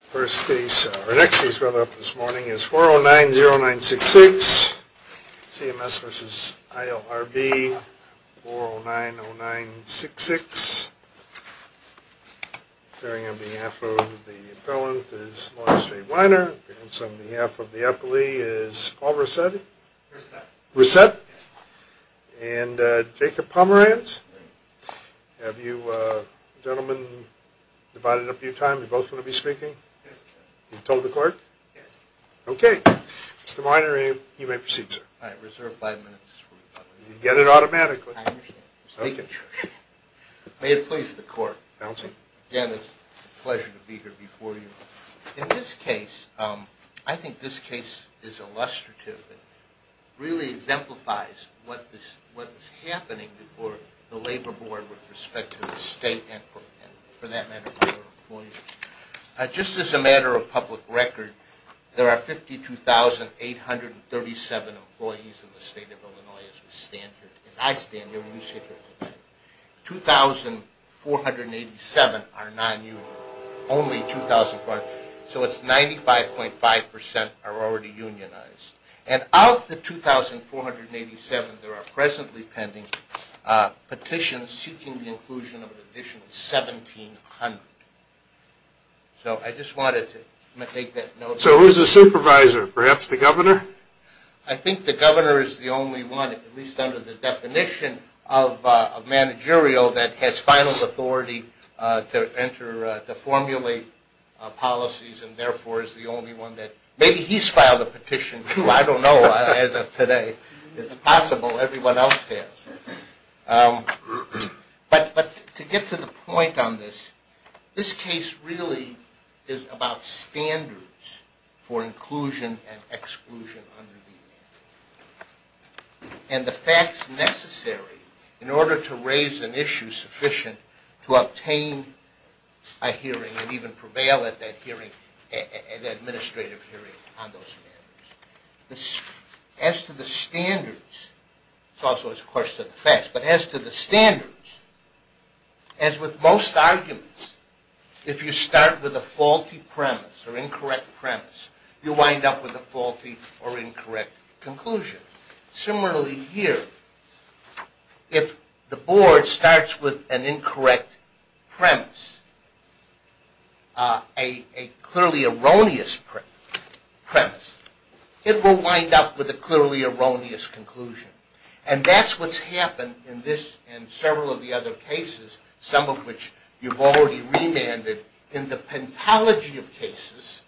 First case, or next case brought up this morning is 4090966, CMS v. ILRB, 4090966. Appearing on behalf of the appellant is Lawrence J. Weiner. Appearance on behalf of the appellee is Paul Rousset. Rousset. Rousset. Yes. And Jacob Pomerantz. Right. Have you gentlemen divided up your time? Are you both going to be speaking? Yes, sir. Have you told the court? Yes. Okay. Mr. Weiner, you may proceed, sir. All right. Reserve five minutes for the public. You can get it automatically. I understand. I'm speaking. May it please the court. Counsel. Again, it's a pleasure to be here before you. In this case, I think this case is illustrative. It really exemplifies what is happening before the labor board with respect to the state and, for that matter, other employees. Just as a matter of public record, there are 52,837 employees in the state of Illinois as we stand here. As I stand here when you sit here today. 2,487 are non-union. Only 2,487. So it's 95.5% are already unionized. And of the 2,487, there are presently pending petitions seeking the inclusion of an additional 1,700. So I just wanted to make that note. So who's the supervisor? Perhaps the governor? I think the governor is the only one, at least under the definition of managerial, that has final authority to formulate policies and therefore is the only one that maybe he's filed a petition too. I don't know. As of today, it's possible everyone else has. But to get to the point on this, this case really is about standards for inclusion and exclusion under the Act. And the facts necessary in order to raise an issue sufficient to obtain a hearing and even prevail at that hearing, an administrative hearing on those standards. As to the standards, it's also, of course, to the facts. But as to the standards, as with most arguments, if you start with a faulty premise or incorrect premise, you wind up with a faulty or incorrect conclusion. Similarly here, if the board starts with an incorrect premise, a clearly erroneous premise, it will wind up with a clearly erroneous conclusion. And that's what's happened in this and several of the other cases, some of which you've already remanded in the pentalogy of cases,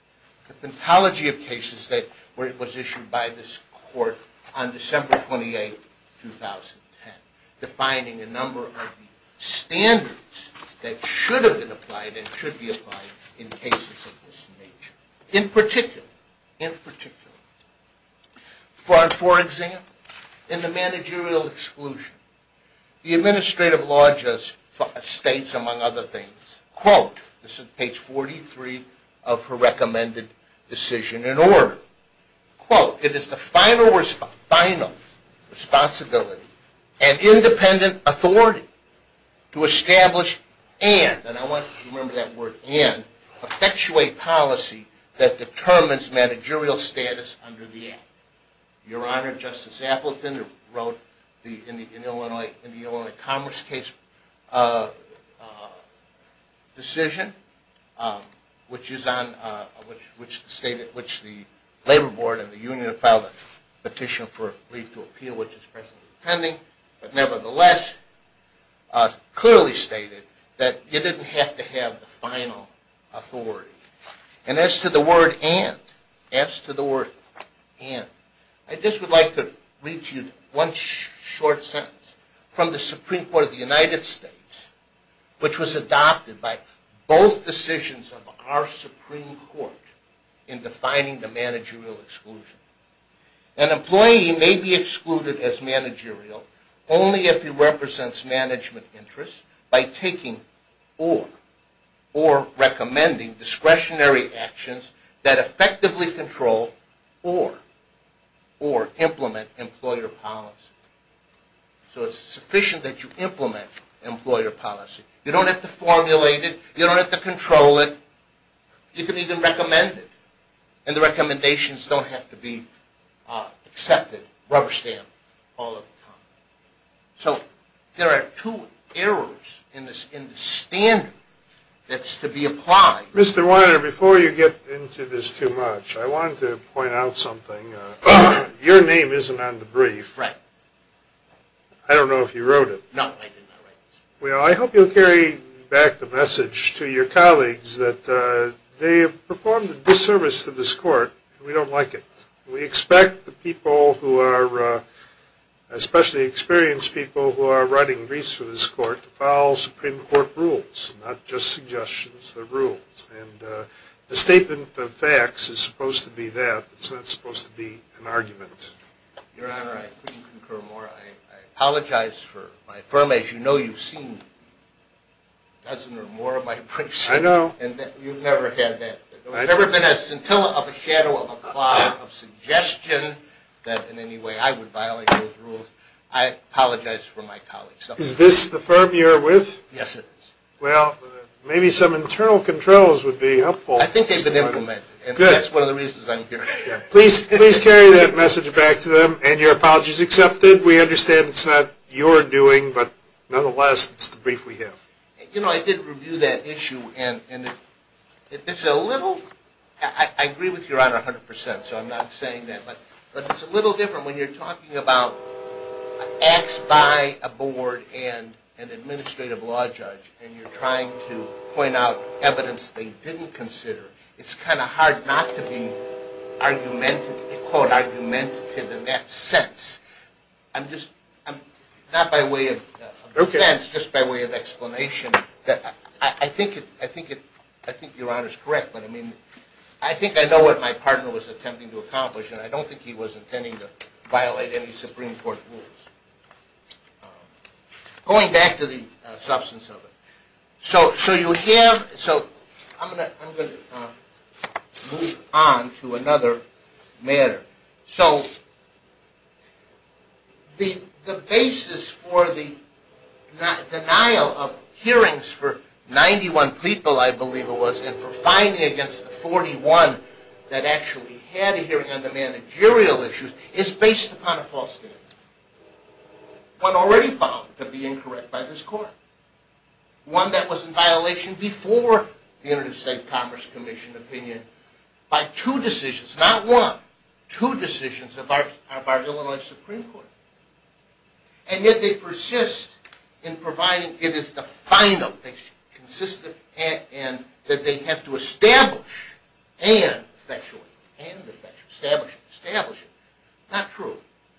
the pentalogy of cases that was issued by this court on December 28, 2010, defining a number of the standards that should have been applied and should be applied in cases of this nature. In particular, for example, in the managerial exclusion, the administrative law states, among other things, quote, this is page 43 of her recommended decision in order, quote, it is the final responsibility and independent authority to establish and, and I want you to remember that word and, effectuate policy that determines managerial status under the Act. Your Honor, Justice Appleton, who wrote in the Illinois Commerce Case decision, which is on, which stated, which the labor board and the union filed a petition for leave to appeal, which is presently pending, but nevertheless, clearly stated that you didn't have to have the final authority. And as to the word and, as to the word and, I just would like to read to you one short sentence from the Supreme Court of the United States, which was adopted by both decisions of our Supreme Court in defining the managerial exclusion. An employee may be excluded as managerial only if he represents management interests by taking or, or recommending discretionary actions that effectively control or, or implement employer policy. So it's sufficient that you implement employer policy. You don't have to formulate it. You don't have to control it. You can even recommend it. And the recommendations don't have to be accepted rubber-stamped all the time. So there are two errors in the standard that's to be applied. Mr. Weiner, before you get into this too much, I wanted to point out something. Your name isn't on the brief. Right. I don't know if you wrote it. No, I did not write it. Well, I hope you'll carry back the message to your colleagues that they have performed a disservice to this court, and we don't like it. We expect the people who are, especially experienced people who are writing briefs for this court, to follow Supreme Court rules, not just suggestions. They're rules. And the statement of facts is supposed to be that. It's not supposed to be an argument. Your Honor, I couldn't concur more. I apologize for my firm. As you know, you've seen a dozen or more of my briefs. I know. And you've never had that. I've never been a scintilla of a shadow of a cloud of suggestion that in any way I would violate those rules. I apologize for my colleagues. Is this the firm you're with? Yes, it is. Well, maybe some internal controls would be helpful. I think they've been implemented. Good. And that's one of the reasons I'm here. Please carry that message back to them. And your apology is accepted. We understand it's not your doing, but nonetheless, it's the brief we have. You know, I did review that issue, and it's a little – I agree with your Honor 100%, so I'm not saying that. But it's a little different when you're talking about acts by a board and an administrative law judge, and you're trying to point out evidence they didn't consider. It's kind of hard not to be, quote, argumentative in that sense. I'm just – not by way of offense, just by way of explanation. I think your Honor's correct, but, I mean, I think I know what my partner was attempting to accomplish, and I don't think he was intending to violate any Supreme Court rules. Going back to the substance of it. So you have – so I'm going to move on to another matter. So the basis for the denial of hearings for 91 people, I believe it was, and for fining against the 41 that actually had a hearing on the managerial issues is based upon a false standard. One already found to be incorrect by this Court. One that was in violation before the Interstate Commerce Commission opinion by two decisions. Not one, two decisions of our Illinois Supreme Court. And yet they persist in providing it is the final thing, consistent, and that they have to establish and effectually, and effectively, establish it, establish it. Not true.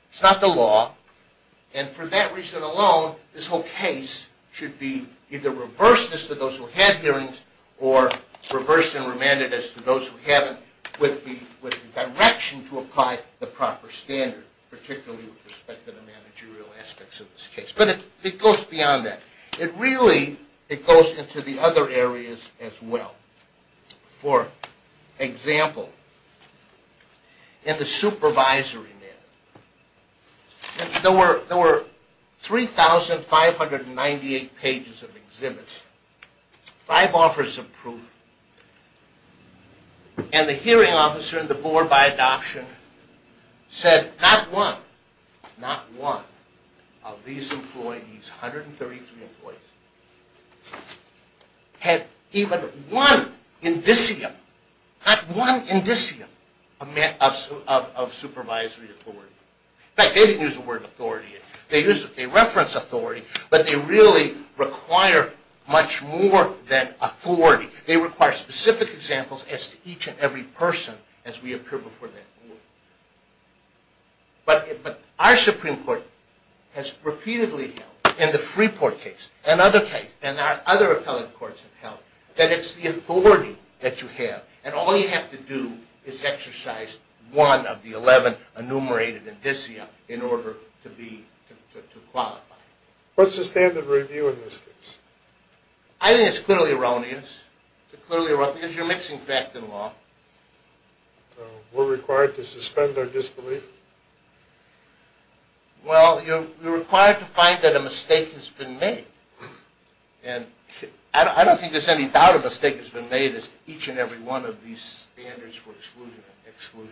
It's not the law. And for that reason alone, this whole case should be either reversed as to those who had hearings or reversed and remanded as to those who haven't with the direction to apply the proper standard, particularly with respect to the managerial aspects of this case. But it goes beyond that. It really, it goes into the other areas as well. For example, in the supervisory matter, there were 3,598 pages of exhibits. Five offers of proof. And the hearing officer and the board by adoption said, not one, not one of these employees, 133 employees, had even one indicium, not one indicium of supervisory authority. In fact, they didn't use the word authority. They reference authority, but they really require much more than authority. They require specific examples as to each and every person as we appear before that board. But our Supreme Court has repeatedly held, in the Freeport case, and other cases, and our other appellate courts have held, that it's the authority that you have. And all you have to do is exercise one of the 11 enumerated indicium in order to qualify. What's the standard review in this case? I think it's clearly erroneous. It's clearly erroneous because you're mixing fact and law. We're required to suspend our disbelief? Well, you're required to find that a mistake has been made. And I don't think there's any doubt a mistake has been made as to each and every one of these standards for exclusion and exclusion.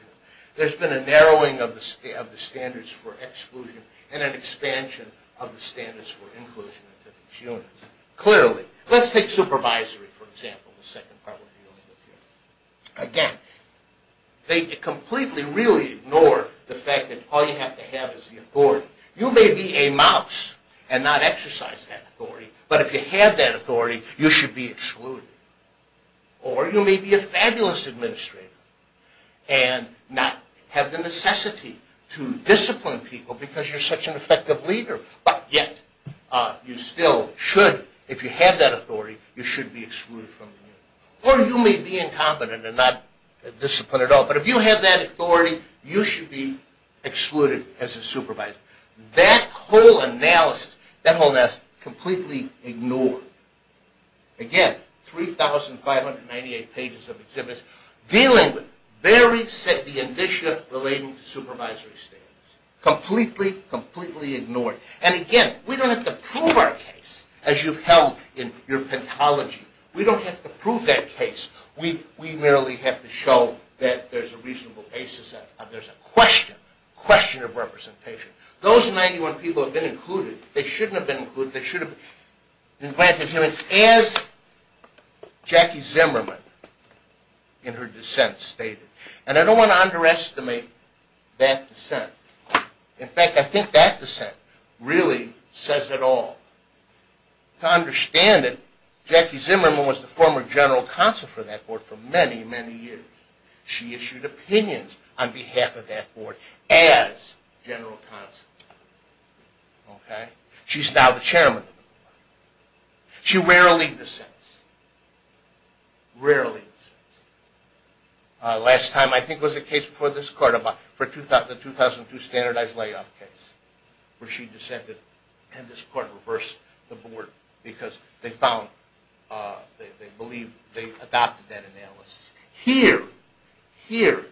There's been a narrowing of the standards for exclusion and an expansion of the standards for inclusion into these units. Clearly, let's take supervisory, for example, the second part we're dealing with here. Again, they completely, really ignore the fact that all you have to have is the authority. You may be a mouse and not exercise that authority, but if you have that authority, you should be excluded. Or you may be a fabulous administrator and not have the necessity to discipline people because you're such an effective leader, but yet you still should, if you have that authority, you should be excluded from the unit. Or you may be incompetent and not disciplined at all, but if you have that authority, you should be excluded as a supervisor. That whole analysis, completely ignored. Again, 3,598 pages of exhibits dealing with the very set of conditions relating to supervisory standards. Completely, completely ignored. And again, we don't have to prove our case as you've held in your pathology. We don't have to prove that case. We merely have to show that there's a reasonable basis. There's a question, a question of representation. Those 91 people have been included. They shouldn't have been included. They should have been. As Jackie Zimmerman in her dissent stated, and I don't want to underestimate that dissent. In fact, I think that dissent really says it all. To understand it, Jackie Zimmerman was the former general counsel for that board for many, many years. She issued opinions on behalf of that board as general counsel. She's now the chairman of the board. She rarely dissents. Rarely dissents. Last time, I think, was a case before this court, the 2002 standardized layoff case, where she dissented, and this court reversed the board because they found, they believe they adopted that analysis. Here, here,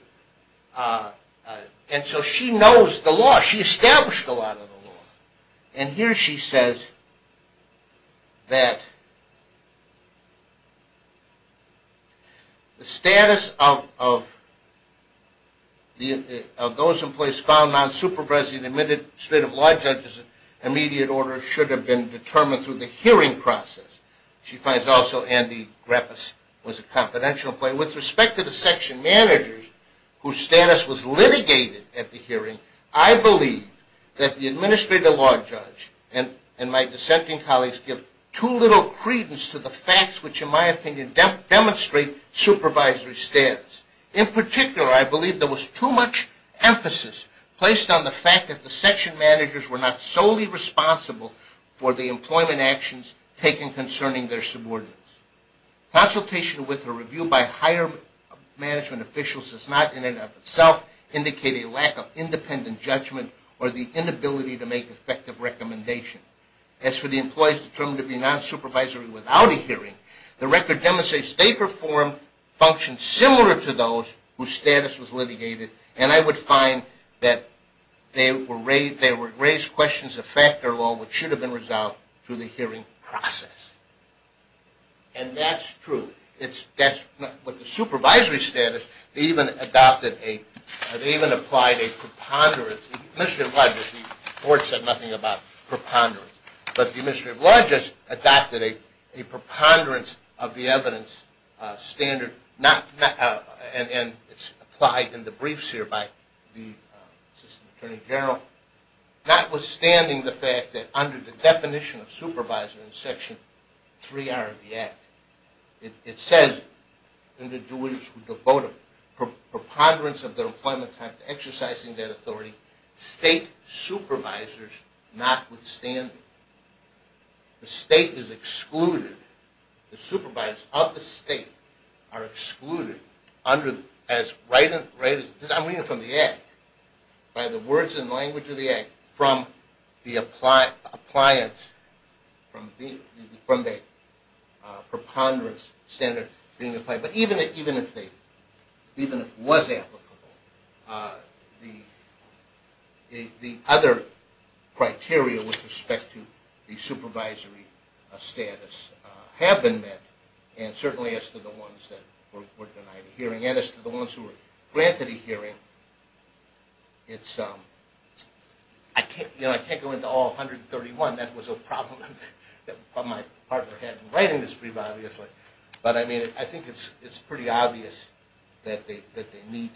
and so she knows the law. She established a lot of the law. And here she says that the status of those in place found non-supervising admitted state of law judges in immediate order should have been determined through the hearing process. She finds also Andy Greppis was a confidential player. With respect to the section managers whose status was litigated at the hearing, I believe that the administrative law judge and my dissenting colleagues give too little credence to the facts which, in my opinion, demonstrate supervisory stance. In particular, I believe there was too much emphasis placed on the fact that the section managers were not solely responsible for the employment actions taken concerning their subordinates. Consultation with or review by higher management officials does not, in and of itself, indicate a lack of independent judgment or the inability to make effective recommendations. As for the employees determined to be non-supervisory without a hearing, the record demonstrates they performed functions similar to those whose status was litigated, and I would find that they were raised questions of factor law which should have been resolved through the hearing process. And that's true. With the supervisory status, they even applied a preponderance. The administrative law judges, the court said nothing about preponderance, but the administrative law judges adopted a preponderance of the evidence standard, and it's applied in the briefs here by the assistant attorney general, notwithstanding the fact that under the definition of supervisor in Section 3R of the Act, it says, and the jurors who devote a preponderance of their employment time to exercising that authority, state supervisors notwithstanding. The state is excluded. The supervisors of the state are excluded under, as I'm reading from the Act, by the words and language of the Act from the preponderance standard being applied. But even if it was applicable, the other criteria with respect to the supervisory status have been met, and certainly as to the ones that were denied a hearing, and as to the ones who were granted a hearing, it's, you know, I can't go into all 131. That was a problem that my partner had in writing this brief, obviously. But, I mean, I think it's pretty obvious that they meet.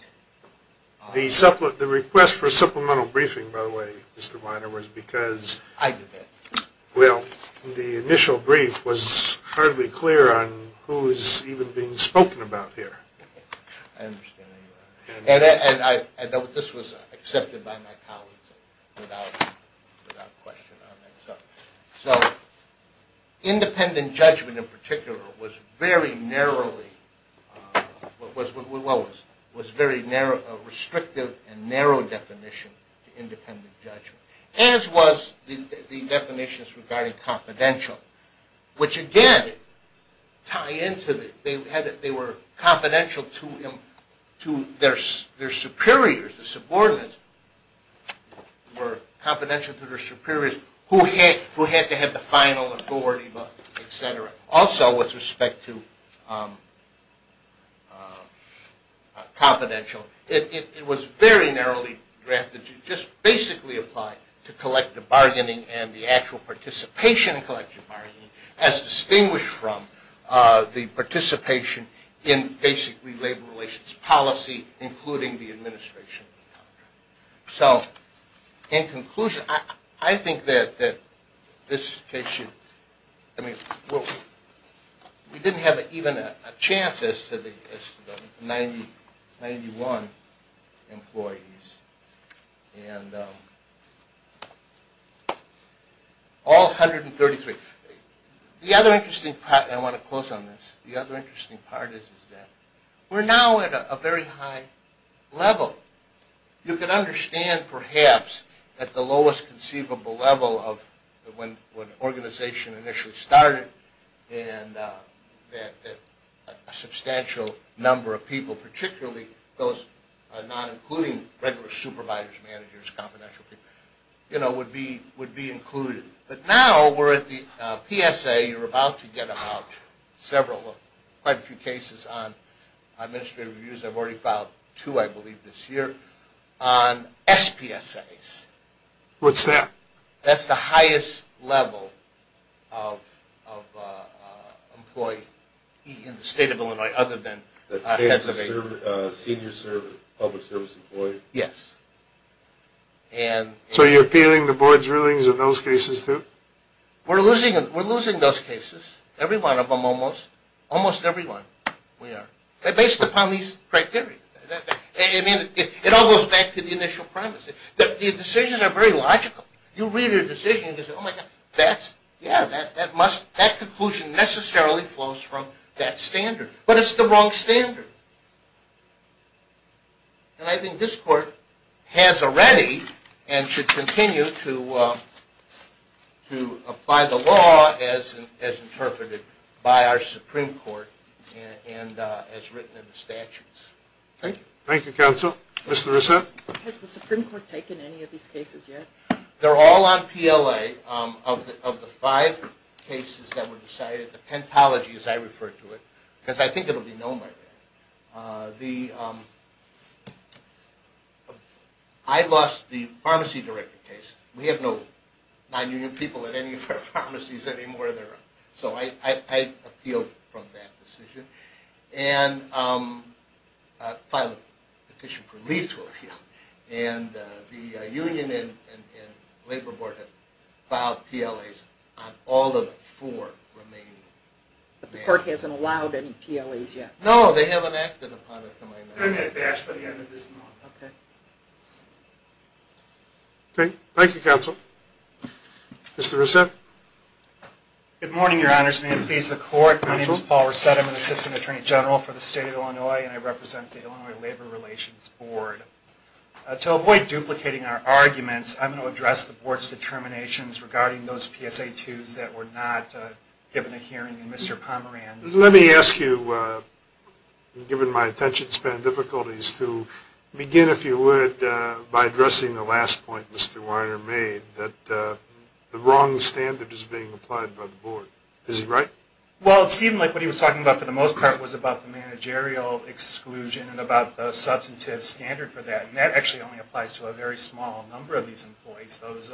The request for a supplemental briefing, by the way, Mr. Weiner, was because... I did that. Well, the initial brief was hardly clear on who was even being spoken about here. I understand. And this was accepted by my colleagues without question on that. So independent judgment in particular was very narrowly, well, was very narrow, a restrictive and narrow definition to independent judgment, as was the definitions regarding confidential, which again tie into the... they were confidential to their superiors, the subordinates were confidential to their superiors, who had to have the final authority, et cetera. Also, with respect to confidential, it was very narrowly drafted to just basically apply to collective bargaining and the actual participation in collective bargaining, as distinguished from the participation in basically labor relations policy, including the administration of the contract. So, in conclusion, I think that this case should... We didn't have even a chance as to the 91 employees, and all 133. The other interesting part, and I want to close on this, the other interesting part is that we're now at a very high level. You can understand, perhaps, that the lowest conceivable level of when an organization initially started and that a substantial number of people, particularly those not including regular supervisors, managers, confidential people, would be included. But now we're at the PSA. You're about to get about several, quite a few cases on administrative reviews. I've already filed two, I believe, this year on SPSAs. What's that? That's the highest level of employee in the state of Illinois other than heads of state. Senior public service employee? Yes. So you're appealing the board's rulings in those cases too? We're losing those cases. Every one of them almost. Almost every one we are. Based upon these criteria. It all goes back to the initial premise. The decisions are very logical. You read a decision and say, oh, my God, that's, yeah, that conclusion necessarily flows from that standard. But it's the wrong standard. And I think this court has already and should continue to apply the law as interpreted by our Supreme Court and as written in the statutes. Thank you. Thank you, counsel. Ms. Larissa? Has the Supreme Court taken any of these cases yet? They're all on PLA. Of the five cases that were decided, the pentology, as I refer to it, because I think it will be known by then. I lost the pharmacy director case. We have no nonunion people at any of our pharmacies anymore. So I appealed from that decision. And filed a petition for leave to appeal. And the union and labor board have filed PLAs on all of the four remaining. But the court hasn't allowed any PLAs yet? No, they haven't acted upon it to my knowledge. Okay. Thank you, counsel. Mr. Reset? Good morning, Your Honors. May it please the court. My name is Paul Reset. I'm an assistant attorney general for the state of Illinois, and I represent the Illinois Labor Relations Board. To avoid duplicating our arguments, I'm going to address the board's determinations regarding those PSA 2s that were not given a hearing in Mr. Pomerantz. Let me ask you, given my attention span difficulties, to begin, if you would, by addressing the last point Mr. Weiner made, that the wrong standard is being applied by the board. Is he right? Well, it seemed like what he was talking about for the most part was about the managerial exclusion and about the substantive standard for that. And that actually only applies to a very small number of these employees, those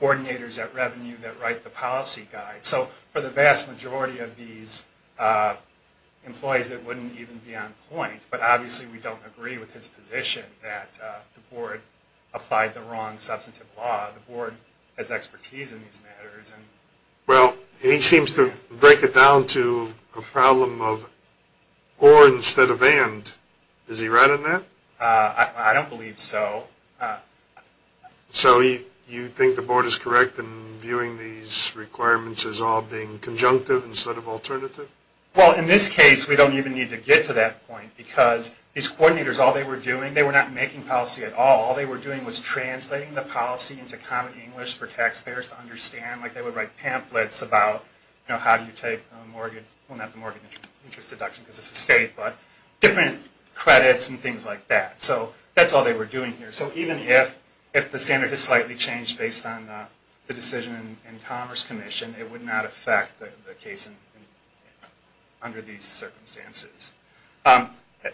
coordinators at revenue that write the policy guide. So for the vast majority of these employees, it wouldn't even be on point. But obviously we don't agree with his position that the board applied the wrong substantive law. The board has expertise in these matters. Well, he seems to break it down to a problem of or instead of and. Is he right on that? I don't believe so. So you think the board is correct in viewing these requirements as all being conjunctive instead of alternative? Well, in this case, we don't even need to get to that point, because these coordinators, all they were doing, they were not making policy at all. All they were doing was translating the policy into common English for example. They would write pamphlets about how do you take a mortgage, well not the mortgage interest deduction because it's a state, but different credits and things like that. So that's all they were doing here. So even if the standard is slightly changed based on the decision in Commerce Commission, it would not affect the case under these circumstances.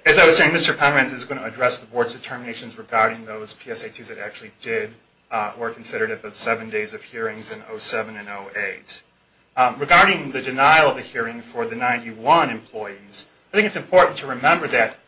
As I was saying, Mr. Pomerantz is going to address the board's determinations regarding those Regarding the denial of the hearing for the 91 employees, I think it's important to remember that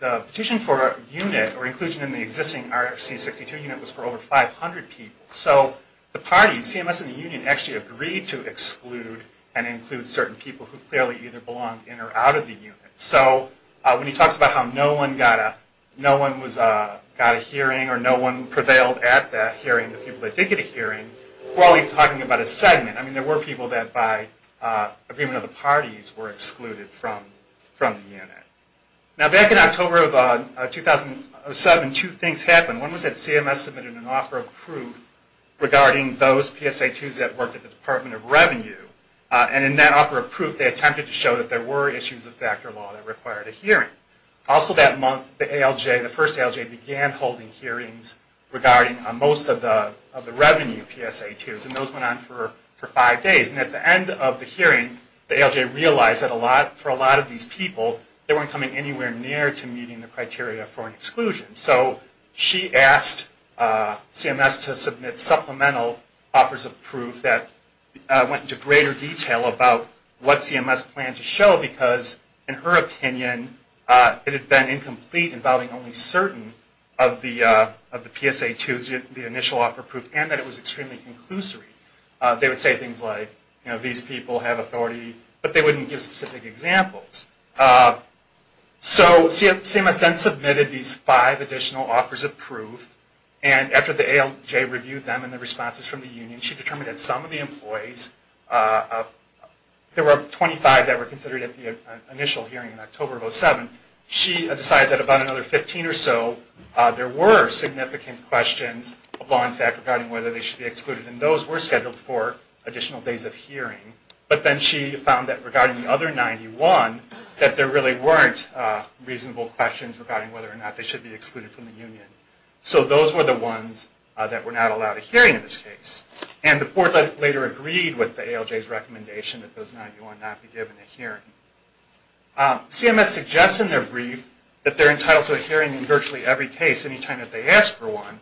the petition for a unit or inclusion in the existing RFC62 unit was for over 500 people. So the party, CMS and the union, actually agreed to exclude and include certain people who clearly either belonged in or out of the unit. So when he talks about how no one got a hearing or no one prevailed at that hearing, the people that did get a hearing, we're only talking about a segment. I mean, there were people that by agreement of the parties were excluded from the unit. Now back in October of 2007, two things happened. One was that CMS submitted an offer of proof regarding those PSA2s that worked at the Department of Revenue. And in that offer of proof, they attempted to show that there were issues of factor law that required a hearing. Also that month, the ALJ, began holding hearings regarding most of the revenue PSA2s. And those went on for five days. And at the end of the hearing, the ALJ realized that for a lot of these people, they weren't coming anywhere near to meeting the criteria for an exclusion. So she asked CMS to submit supplemental offers of proof that went into greater detail about what CMS planned to show because in her opinion, it had been incomplete involving only certain of the PSA2s, the initial offer of proof, and that it was extremely conclusive. They would say things like, you know, these people have authority, but they wouldn't give specific examples. So CMS then submitted these five additional offers of proof. And after the ALJ reviewed them and the responses from the union, she determined that some of the employees, there were 25 that were considered at the initial hearing in October of 2007. She decided that about another 15 or so, there were significant questions of law and fact regarding whether they should be excluded. And those were scheduled for additional days of hearing. But then she found that regarding the other 91, that there really weren't reasonable questions regarding whether or not they should be excluded from the union. So those were the ones that were not allowed a hearing in this case. not be given a hearing. CMS suggests in their brief that they're entitled to a hearing in virtually every case, any time that they ask for one.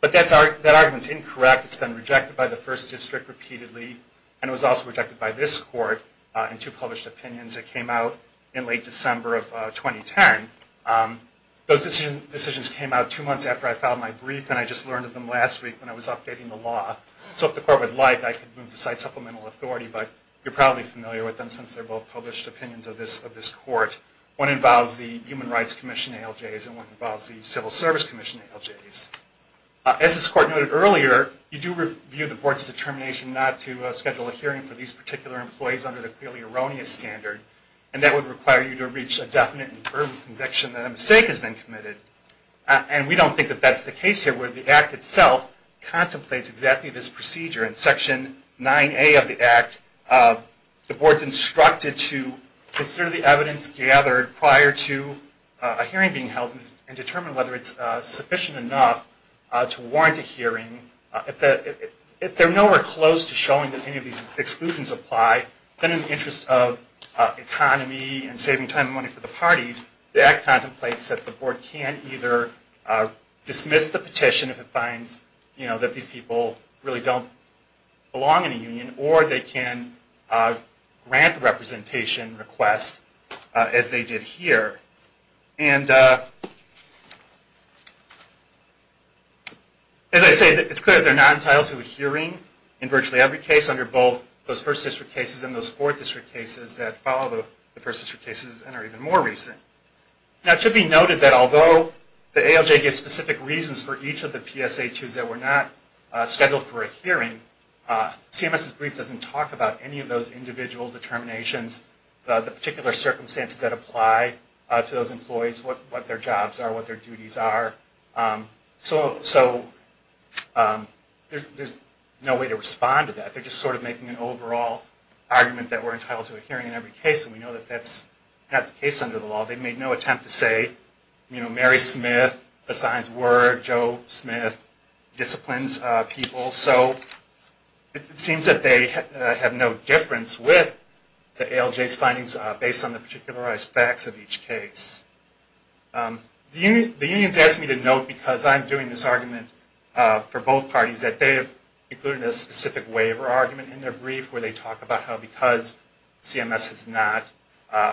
But that argument is incorrect. It's been rejected by the first district repeatedly, and it was also rejected by this court in two published opinions that came out in late December of 2010. Those decisions came out two months after I filed my brief, and I just learned of them last week when I was updating the law. So if the court would like, I could move to cite supplemental authority, but you're probably familiar with them since they're both published opinions of this court. One involves the Human Rights Commission ALJs, and one involves the Civil Service Commission ALJs. As this court noted earlier, you do review the board's determination not to schedule a hearing for these particular employees under the clearly erroneous standard, and that would require you to reach a definite and firm conviction that a mistake has been committed. And we don't think that that's the case here, where the Act itself contemplates exactly this procedure. In Section 9A of the Act, the board's instructed to consider the evidence gathered prior to a hearing being held, and determine whether it's sufficient enough to warrant a hearing. If they're nowhere close to showing that any of these exclusions apply, then in the interest of economy and saving time and money for the parties, the Act contemplates that the board can either dismiss the petition if it finds that these people really don't belong in a union, or they can grant a representation request, as they did here. And as I say, it's clear they're not entitled to a hearing in virtually every case under both those First District cases and those Fourth District cases that follow the First District cases and are even more recent. Now it should be noted that although the ALJ gives specific reasons for each of the PSHUs that were not scheduled for a hearing, CMS's brief doesn't talk about any of those individual determinations, the particular circumstances that apply to those employees, what their jobs are, what their duties are. So there's no way to respond to that. They're just sort of making an overall argument that we're entitled to a hearing in every case, and we know that that's not the case under the law. They made no attempt to say, you know, Mary Smith assigns work, Joe Smith disciplines people. So it seems that they have no difference with the ALJ's findings based on the particular aspects of each case. The unions asked me to note, because I'm doing this argument for both parties, that they have included a specific waiver argument in their brief where they talk about how because CMS has not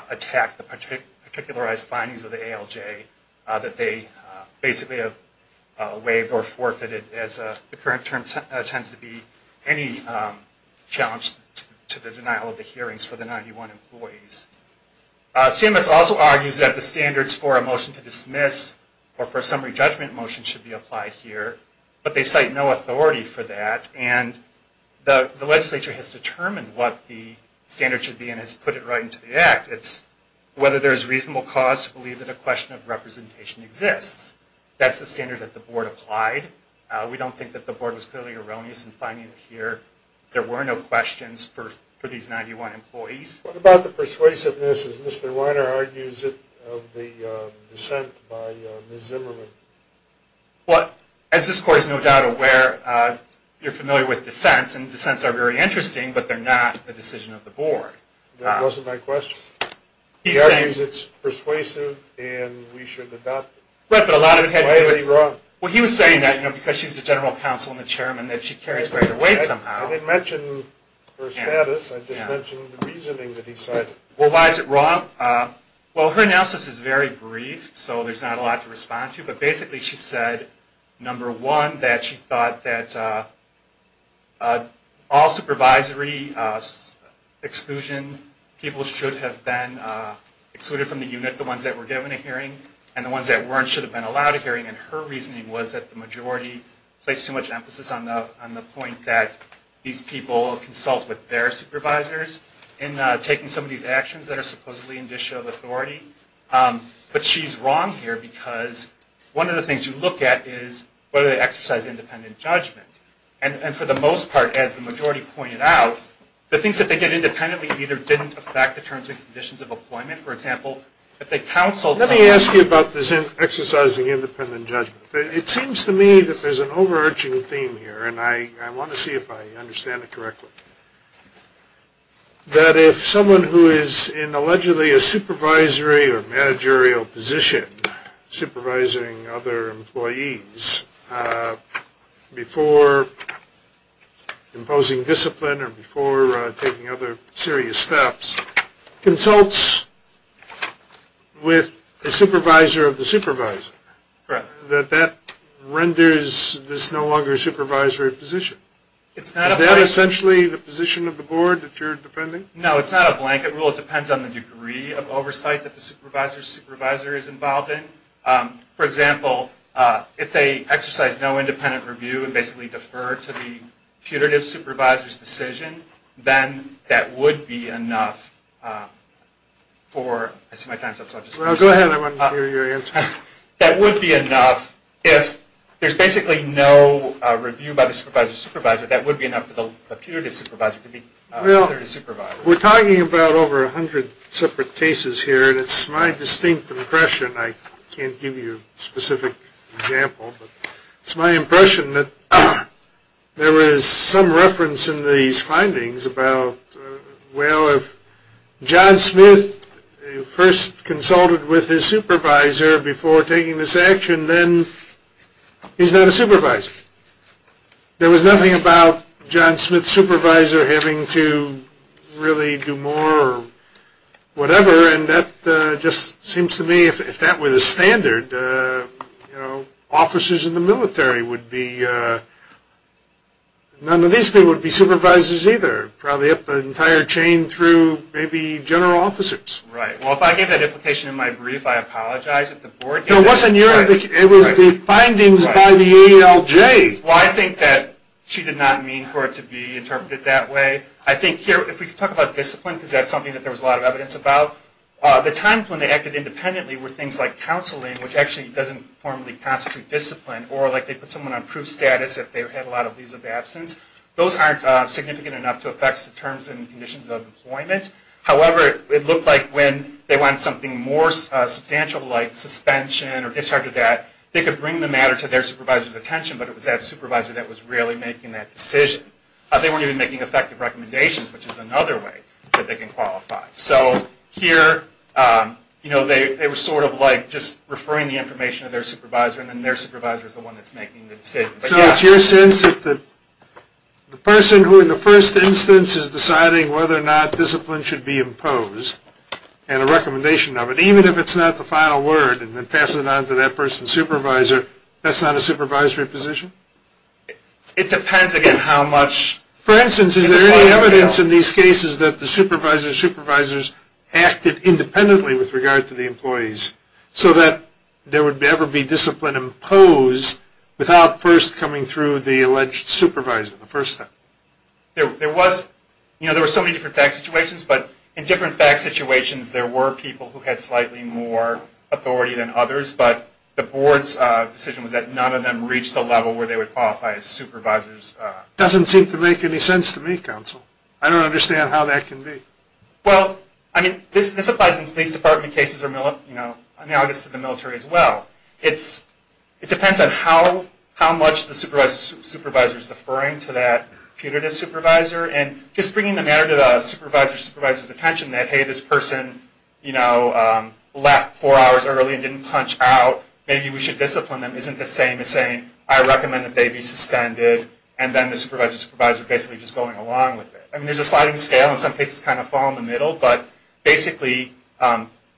attacked the particularized findings of the ALJ that they basically have waived or forfeited as the current term tends to be any challenge to the denial of the hearings for the 91 employees. CMS also argues that the standards for a motion to dismiss or for a summary judgment motion should be applied here, but they cite no authority for that. And the legislature has determined what the standard should be and has put it right into the act. It's whether there's reasonable cause to believe that a question of representation exists. That's the standard that the board applied. We don't think that the board was clearly erroneous in finding that here there were no questions for these 91 employees. What about the persuasiveness, as Mr. Weiner argues, of the dissent by Ms. Zimmerman? As this court is no doubt aware, you're familiar with dissents, and dissents are very interesting, but they're not a decision of the board. That wasn't my question. He argues it's persuasive and we should adopt it. Why is he wrong? Well, he was saying that because she's the general counsel and the chairman that she carries greater weight somehow. I didn't mention her status. I just mentioned the reasoning that he cited. Well, why is it wrong? Well, her analysis is very brief, so there's not a lot to respond to. But basically she said, number one, that she thought that all supervisory exclusion, people should have been excluded from the unit, the ones that were given a hearing, and the ones that weren't should have been allowed a hearing. And her reasoning was that the majority placed too much emphasis on the point that these people consult with their supervisors in taking some of these actions that are supposedly in disshow of authority. But she's wrong here because one of the things you look at is whether they exercise independent judgment. And for the most part, as the majority pointed out, the things that they did independently either didn't affect the terms and conditions of employment, for example, if they counseled someone. Let me ask you about this exercising independent judgment. It seems to me that there's an overarching theme here, and I want to see if I understand it correctly, that if someone who is in allegedly a supervisory or managerial position, supervising other employees before imposing discipline or before taking other serious steps, consults with a supervisor of the supervisor, that that renders this no longer a supervisory position. Is that essentially the position of the board that you're defending? No. It's not a blanket rule. It depends on the degree of oversight that the supervisor's supervisor is involved in. For example, if they exercise no independent review and basically defer to the putative supervisor's decision, then that would be enough for... I see my time's up, so I'll just... Well, go ahead. I want to hear your answer. That would be enough if there's basically no review by the supervisor's We're talking about over 100 separate cases here, and it's my distinct impression, I can't give you a specific example, but it's my impression that there is some reference in these findings about, well, if John Smith first consulted with his supervisor before taking this action, then he's not a supervisor. There was nothing about John Smith's supervisor having to really do more or whatever, and that just seems to me, if that were the standard, officers in the military would be... None of these people would be supervisors either, probably up the entire chain through maybe general officers. Right. Well, if I gave that implication in my brief, I apologize if the board... No, it wasn't your... It was the findings by the ALJ. Well, I think that she did not mean for it to be interpreted that way. I think here, if we could talk about discipline, because that's something that there was a lot of evidence about. The time when they acted independently were things like counseling, which actually doesn't formally constitute discipline, or they put someone on proof status if they had a lot of leaves of absence. Those aren't significant enough to affect the terms and conditions of employment. However, it looked like when they wanted something more substantial, like suspension or this or that, they could bring the matter to their supervisor's attention, but it was that supervisor that was really making that decision. They weren't even making effective recommendations, which is another way that they can qualify. So here, they were sort of like just referring the information to their supervisor, and then their supervisor is the one that's making the decision. So it's your sense that the person who in the first instance is deciding whether or not discipline should be imposed, and a recommendation of it, even if it's not the final word, and then passes it on to that person's supervisor, that's not a supervisory position? It depends, again, how much. For instance, is there any evidence in these cases that the supervisors acted independently with regard to the employees, so that there would ever be discipline imposed without first coming through the alleged supervisor the first time? There were so many different fact situations, but in different fact situations, there was more authority than others, but the board's decision was that none of them reached the level where they would qualify as supervisors. Doesn't seem to make any sense to me, counsel. I don't understand how that can be. Well, I mean, this applies in police department cases, or analogous to the military as well. It depends on how much the supervisor is referring to that putative supervisor, and just bringing the matter to the supervisor's attention that, hey, this person left four hours early and didn't punch out, maybe we should discipline them, isn't the same as saying, I recommend that they be suspended, and then the supervisor's supervisor basically just going along with it. I mean, there's a sliding scale, and some cases kind of fall in the middle, but basically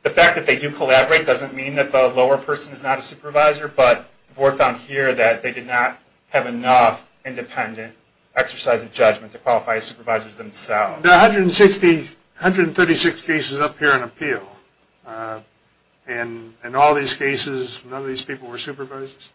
the fact that they do collaborate doesn't mean that the lower person is not a supervisor, but the board found here that they did not have enough independent exercise of judgment to qualify as supervisors themselves. There are 136 cases up here in appeal, and in all these cases, none of these people were supervisors?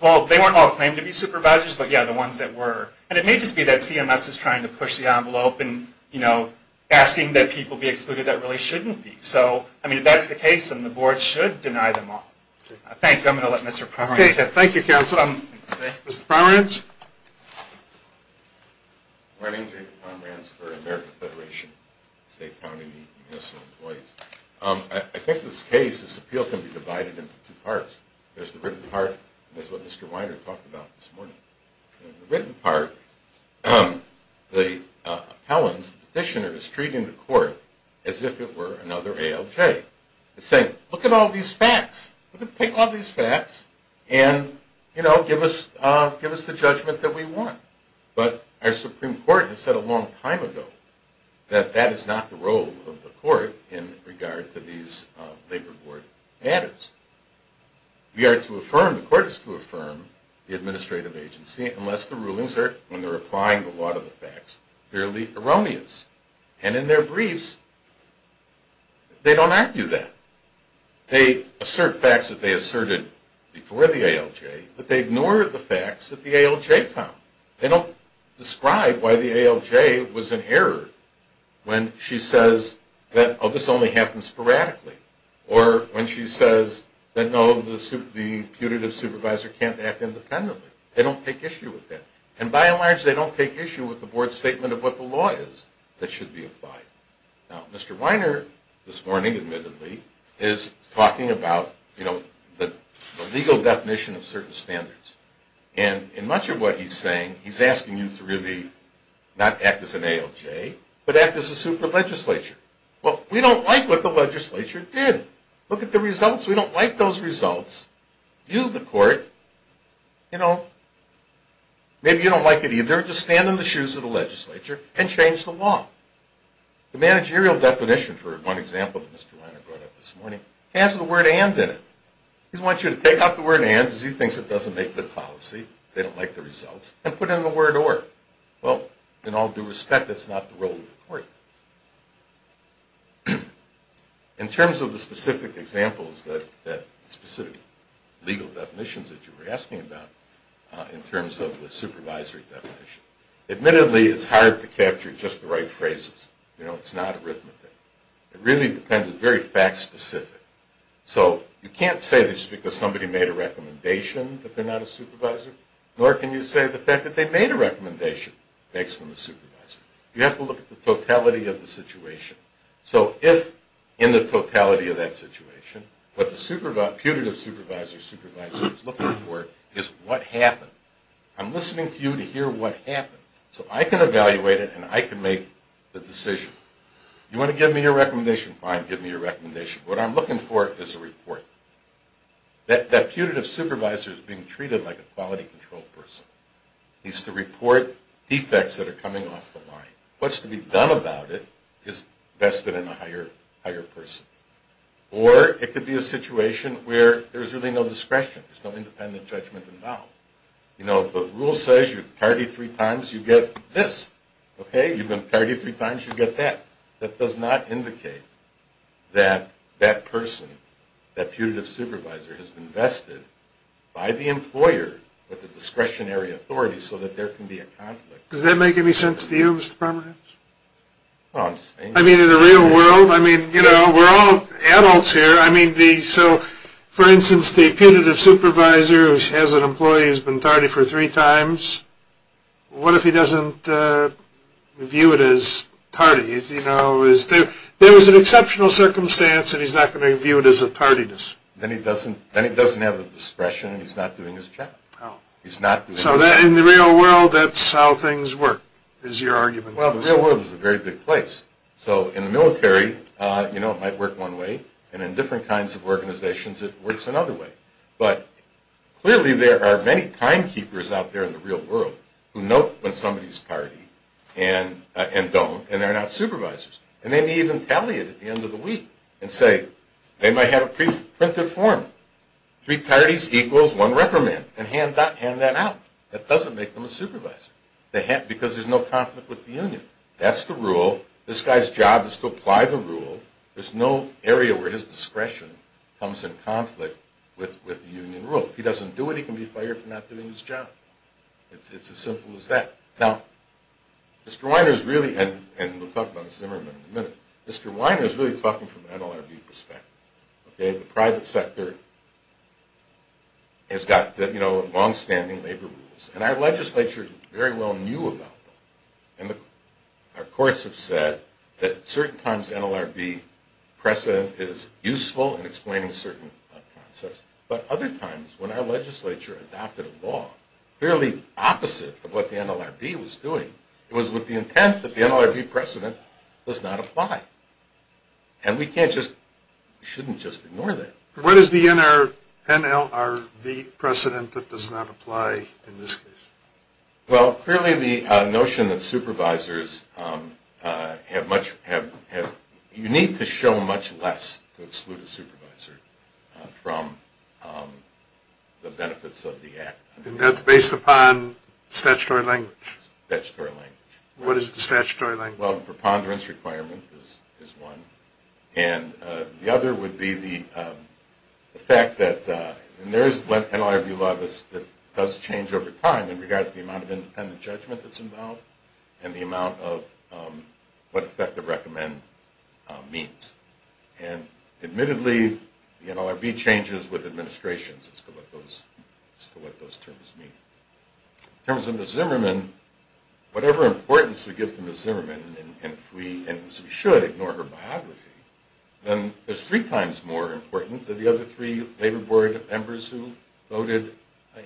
Well, they weren't all claimed to be supervisors, but, yeah, the ones that were. And it may just be that CMS is trying to push the envelope and, you know, asking that people be excluded that really shouldn't be. So, I mean, if that's the case, then the board should deny them all. I think I'm going to let Mr. Pomerantz. Thank you, counsel. Mr. Pomerantz? My name's David Pomerantz for American Federation State County Municipal Employees. I think this case, this appeal, can be divided into two parts. There's the written part, and that's what Mr. Weiner talked about this morning. In the written part, the appellant's petitioner is treating the court as if it were another ALJ. It's saying, look at all these facts. Look at all these facts and, you know, give us the judgment that we want. But our Supreme Court has said a long time ago that that is not the role of the court in regard to these labor board matters. We are to affirm, the court is to affirm the administrative agency unless the rulings are, when they're applying the law to the facts, fairly erroneous. And in their briefs, they don't argue that. They assert facts that they asserted before the ALJ, but they ignore the facts that the ALJ found. They don't describe why the ALJ was in error when she says that, oh, this only happens sporadically. Or when she says that, no, the putative supervisor can't act independently. They don't take issue with that. And by and large, they don't take issue with the board's statement of what the law is that should be applied. Now, Mr. Weiner, this morning, admittedly, is talking about, you know, the legal definition of certain standards. And in much of what he's saying, he's asking you to really not act as an ALJ, but act as a super legislature. Well, we don't like what the legislature did. Look at the results. We don't like those results. You, the court, you know, maybe you don't like it either. Just stand in the shoes of the legislature and change the law. The managerial definition, for one example that Mr. Weiner brought up this morning, has the word and in it. He wants you to take out the word and because he thinks it doesn't make good policy, they don't like the results, and put in the word or. Well, in all due respect, that's not the role of the court. Admittedly, it's hard to capture just the right phrases. You know, it's not arithmetic. It really depends. It's very fact specific. So you can't say this is because somebody made a recommendation that they're not a supervisor, nor can you say the fact that they made a recommendation makes them a supervisor. You have to look at the totality of the situation. So if in the totality of that situation, what the putative supervisor or supervisor is looking for is what happened. I'm listening to you to hear what happened so I can evaluate it and I can make the decision. You want to give me your recommendation? Fine, give me your recommendation. What I'm looking for is a report. That putative supervisor is being treated like a quality control person. He's to report defects that are coming off the line. What's to be done about it is vested in a higher person. Or it could be a situation where there's really no discretion. There's no independent judgment involved. You know, the rule says you party three times, you get this. Okay? You've been partied three times, you get that. That does not indicate that that person, that putative supervisor, has been vested by the employer with a discretionary authority so that there can be a conflict. Does that make any sense to you, Mr. Pomerance? I mean, in the real world? I mean, you know, we're all adults here. I mean, so, for instance, the putative supervisor who has an employee who's been tardy for three times, what if he doesn't view it as tardiness? You know, there was an exceptional circumstance and he's not going to view it as a tardiness. Then he doesn't have the discretion and he's not doing his job. He's not doing his job. So in the real world, that's how things work, is your argument? Well, the real world is a very big place. So in the military, you know, it might work one way. And in different kinds of organizations, it works another way. But clearly there are many timekeepers out there in the real world who know when somebody's tardy and don't, and they're not supervisors. And they may even tally it at the end of the week and say, they might have a pre-printed form, three tardies equals one record man, and hand that out. That doesn't make them a supervisor because there's no conflict with the union. That's the rule. This guy's job is to apply the rule. There's no area where his discretion comes in conflict with the union rule. If he doesn't do it, he can be fired for not doing his job. It's as simple as that. Now, Mr. Weiner is really, and we'll talk about this in a minute, Mr. Weiner is really talking from an NLRB perspective. The private sector has got longstanding labor rules, and our legislature very well knew about them. Our courts have said that certain times NLRB precedent is useful in explaining certain concepts, but other times when our legislature adopted a law fairly opposite of what the NLRB was doing, it was with the intent that the NLRB precedent does not apply. And we can't just, we shouldn't just ignore that. What is the NLRB precedent that does not apply in this case? Well, clearly the notion that supervisors have much, you need to show much less to exclude a supervisor from the benefits of the act. And that's based upon statutory language? Statutory language. What is the statutory language? Well, the preponderance requirement is one, and the other would be the fact that, and there is an NLRB law that does change over time in regard to the amount of independent judgment that's involved, and the amount of what effective recommend means. And admittedly, the NLRB changes with administrations as to what those terms mean. In terms of Ms. Zimmerman, whatever importance we give to Ms. Zimmerman, and we should ignore her biography, then it's three times more important than the other three labor board members who voted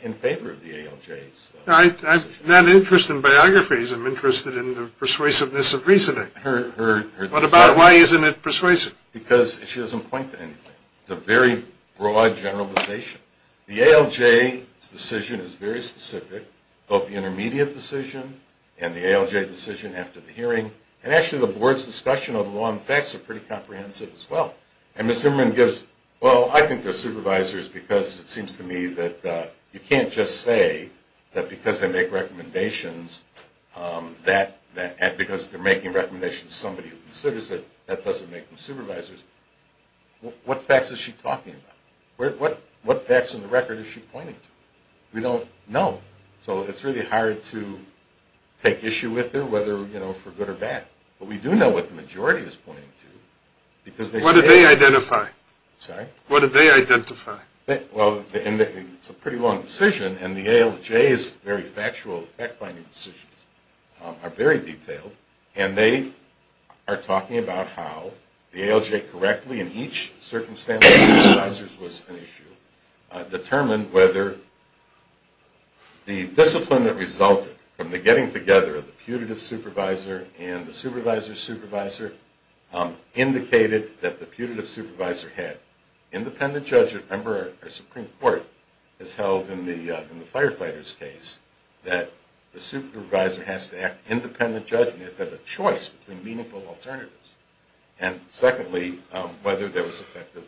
in favor of the ALJs. I'm not interested in biographies. I'm interested in the persuasiveness of reasoning. What about it? Why isn't it persuasive? Because she doesn't point to anything. It's a very broad generalization. The ALJ's decision is very specific, both the intermediate decision and the ALJ decision after the hearing. And actually, the board's discussion of the law and facts are pretty comprehensive as well. And Ms. Zimmerman gives, well, I think they're supervisors because it seems to me that you can't just say that because they make recommendations that, because they're making recommendations somebody considers it, that doesn't make them supervisors. What facts is she talking about? What facts in the record is she pointing to? We don't know. So it's really hard to take issue with her, whether, you know, for good or bad. But we do know what the majority is pointing to. What do they identify? Sorry? What do they identify? Well, it's a pretty long decision, and the ALJ's very factual fact-finding decisions are very detailed. And they are talking about how the ALJ correctly, in each circumstance, was an issue, determined whether the discipline that resulted from the getting together of the putative supervisor and the supervisor's supervisor indicated that the putative supervisor had independent judgment. Remember, our Supreme Court has held in the firefighter's case that the supervisor has to have independent judgment, has to have a choice between meaningful alternatives. And secondly, whether there was effective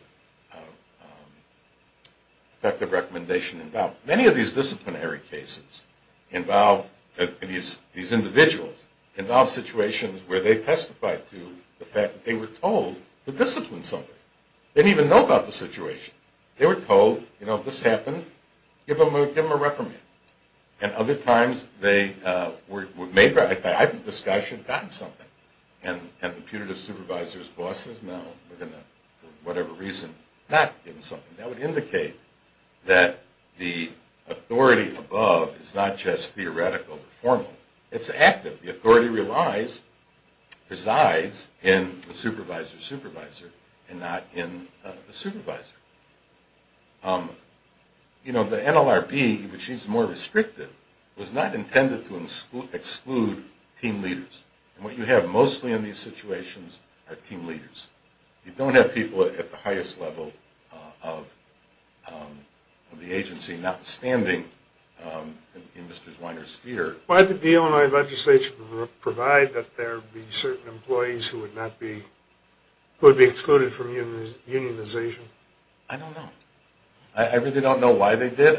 recommendation involved. Many of these disciplinary cases involve, these individuals, involve situations where they testified to the fact that they were told to discipline somebody. They didn't even know about the situation. They were told, you know, this happened, give them a reprimand. And other times they were made by, I think this guy should have gotten something. And the putative supervisor's boss says, no, we're going to, for whatever reason, not give them something. That would indicate that the authority above is not just theoretical or formal. It's active. The authority resides in the supervisor's supervisor and not in the supervisor. You know, the NLRB, which is more restrictive, was not intended to exclude team leaders. And what you have mostly in these situations are team leaders. You don't have people at the highest level of the agency not standing in Mr. Weiner's sphere. Why did the Illinois legislation provide that there would be certain employees who would not be, who would be excluded from unionization? I don't know. I really don't know why they did.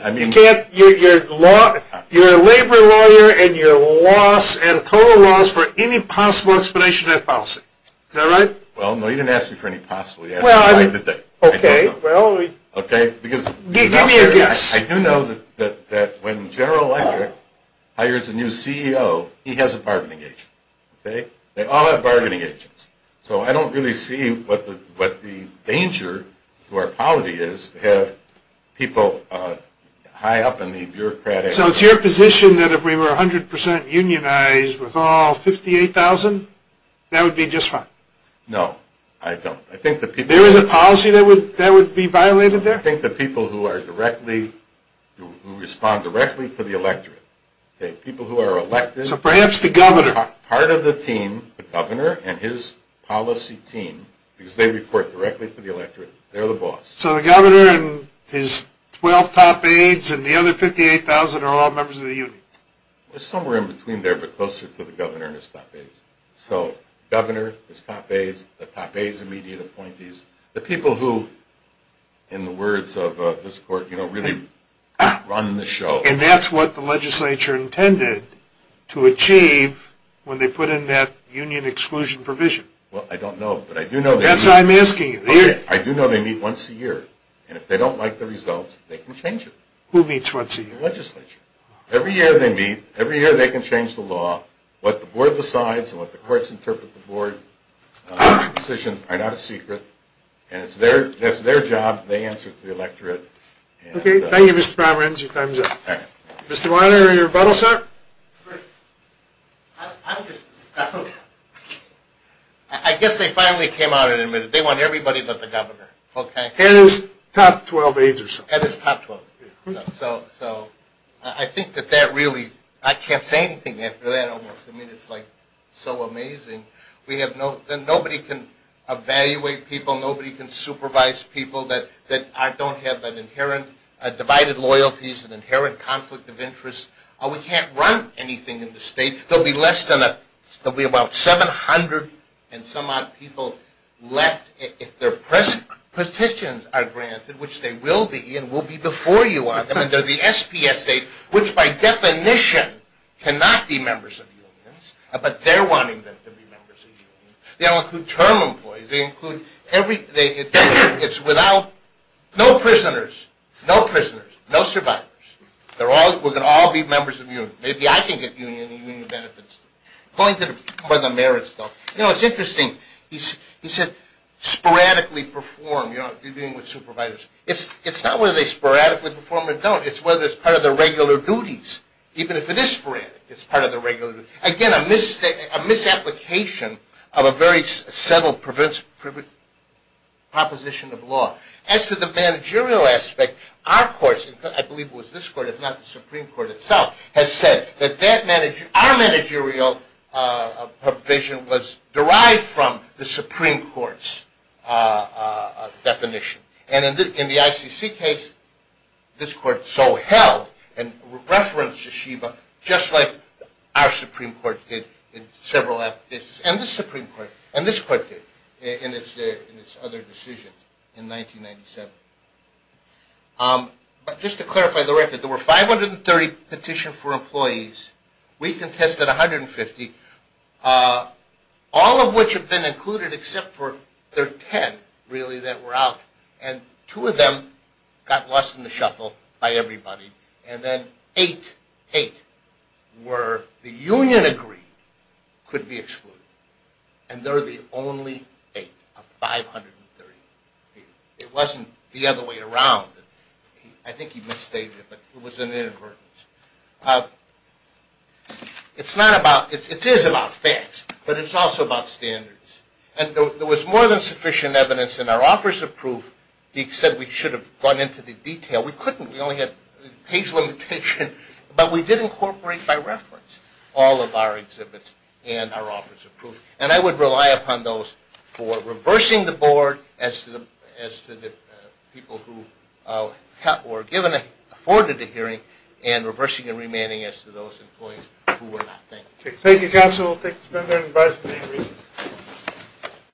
You're a labor lawyer and you're at a total loss for any possible explanation of that policy. Is that right? Well, no, you didn't ask me for any possible explanation. Okay, well, give me a guess. I do know that when General Electric hires a new CEO, he has a bargaining agent. They all have bargaining agents. So I don't really see what the danger to our polity is to have people high up in the bureaucratic. So it's your position that if we were 100% unionized with all 58,000, that would be just fine? No, I don't. There is a policy that would be violated there? I think the people who are directly, who respond directly to the electorate, people who are elected. So perhaps the governor. Part of the team, the governor and his policy team, because they report directly to the electorate. They're the boss. So the governor and his 12 top aides and the other 58,000 are all members of the union? It's somewhere in between there, but closer to the governor and his top aides. So governor, his top aides, the top aides' immediate appointees, the people who, in the words of this court, really run the show. And that's what the legislature intended to achieve when they put in that union exclusion provision? Well, I don't know. That's why I'm asking you. I do know they meet once a year. And if they don't like the results, they can change it. Who meets once a year? The legislature. Every year they meet. Every year they can change the law. What the board decides and what the courts interpret the board decisions are not a secret. And that's their job. They answer to the electorate. Okay. Thank you, Mr. Brommer. Your time is up. Mr. Weiner, your rebuttal, sir? I guess they finally came out and admitted they want everybody but the governor. Okay. And his top 12 aides or so. And his top 12. So I think that that really, I can't say anything after that. I mean, it's like so amazing. Nobody can evaluate people. Nobody can supervise people that don't have an inherent divided loyalties, an inherent conflict of interest. We can't run anything in the state. There will be less than 700 and some odd people left if their petitions are granted, which they will be and will be before you on them. And they're the SPSA, which by definition cannot be members of unions. But they're wanting them to be members of unions. They don't include term employees. They include every, it's without, no prisoners, no prisoners, no survivors. We're going to all be members of unions. Maybe I can get union benefits. Going to the merits, though. You know, it's interesting. He said sporadically perform, you know, dealing with supervisors. It's not whether they sporadically perform or don't. It's whether it's part of their regular duties. Even if it is sporadic, it's part of their regular duties. Again, a misapplication of a very subtle proposition of law. As to the managerial aspect, our courts, I believe it was this court if not the Supreme Court itself, has said that our managerial provision was derived from the Supreme Court's definition. And in the ICC case, this court so held and referenced Yeshiva just like our Supreme Court did in several applications. And this Supreme Court and this court did in its other decisions in 1997. But just to clarify the record, there were 530 petitions for employees. We contested 150. All of which have been included except for their 10, really, that were out. And two of them got lost in the shuffle by everybody. And then eight were the union agreed could be excluded. And they're the only eight of 530. It wasn't the other way around. I think he misstated it, but it was inadvertent. It is about facts, but it's also about standards. And there was more than sufficient evidence in our offers of proof. He said we should have gone into the detail. We couldn't. We only had page limitation. But we did incorporate by reference all of our exhibits and our offers of proof. And I would rely upon those for reversing the board as to the people who were afforded a hearing and reversing and remanding as to those employees who were not. Thank you. Thank you, counsel. Thank you for your time and advice.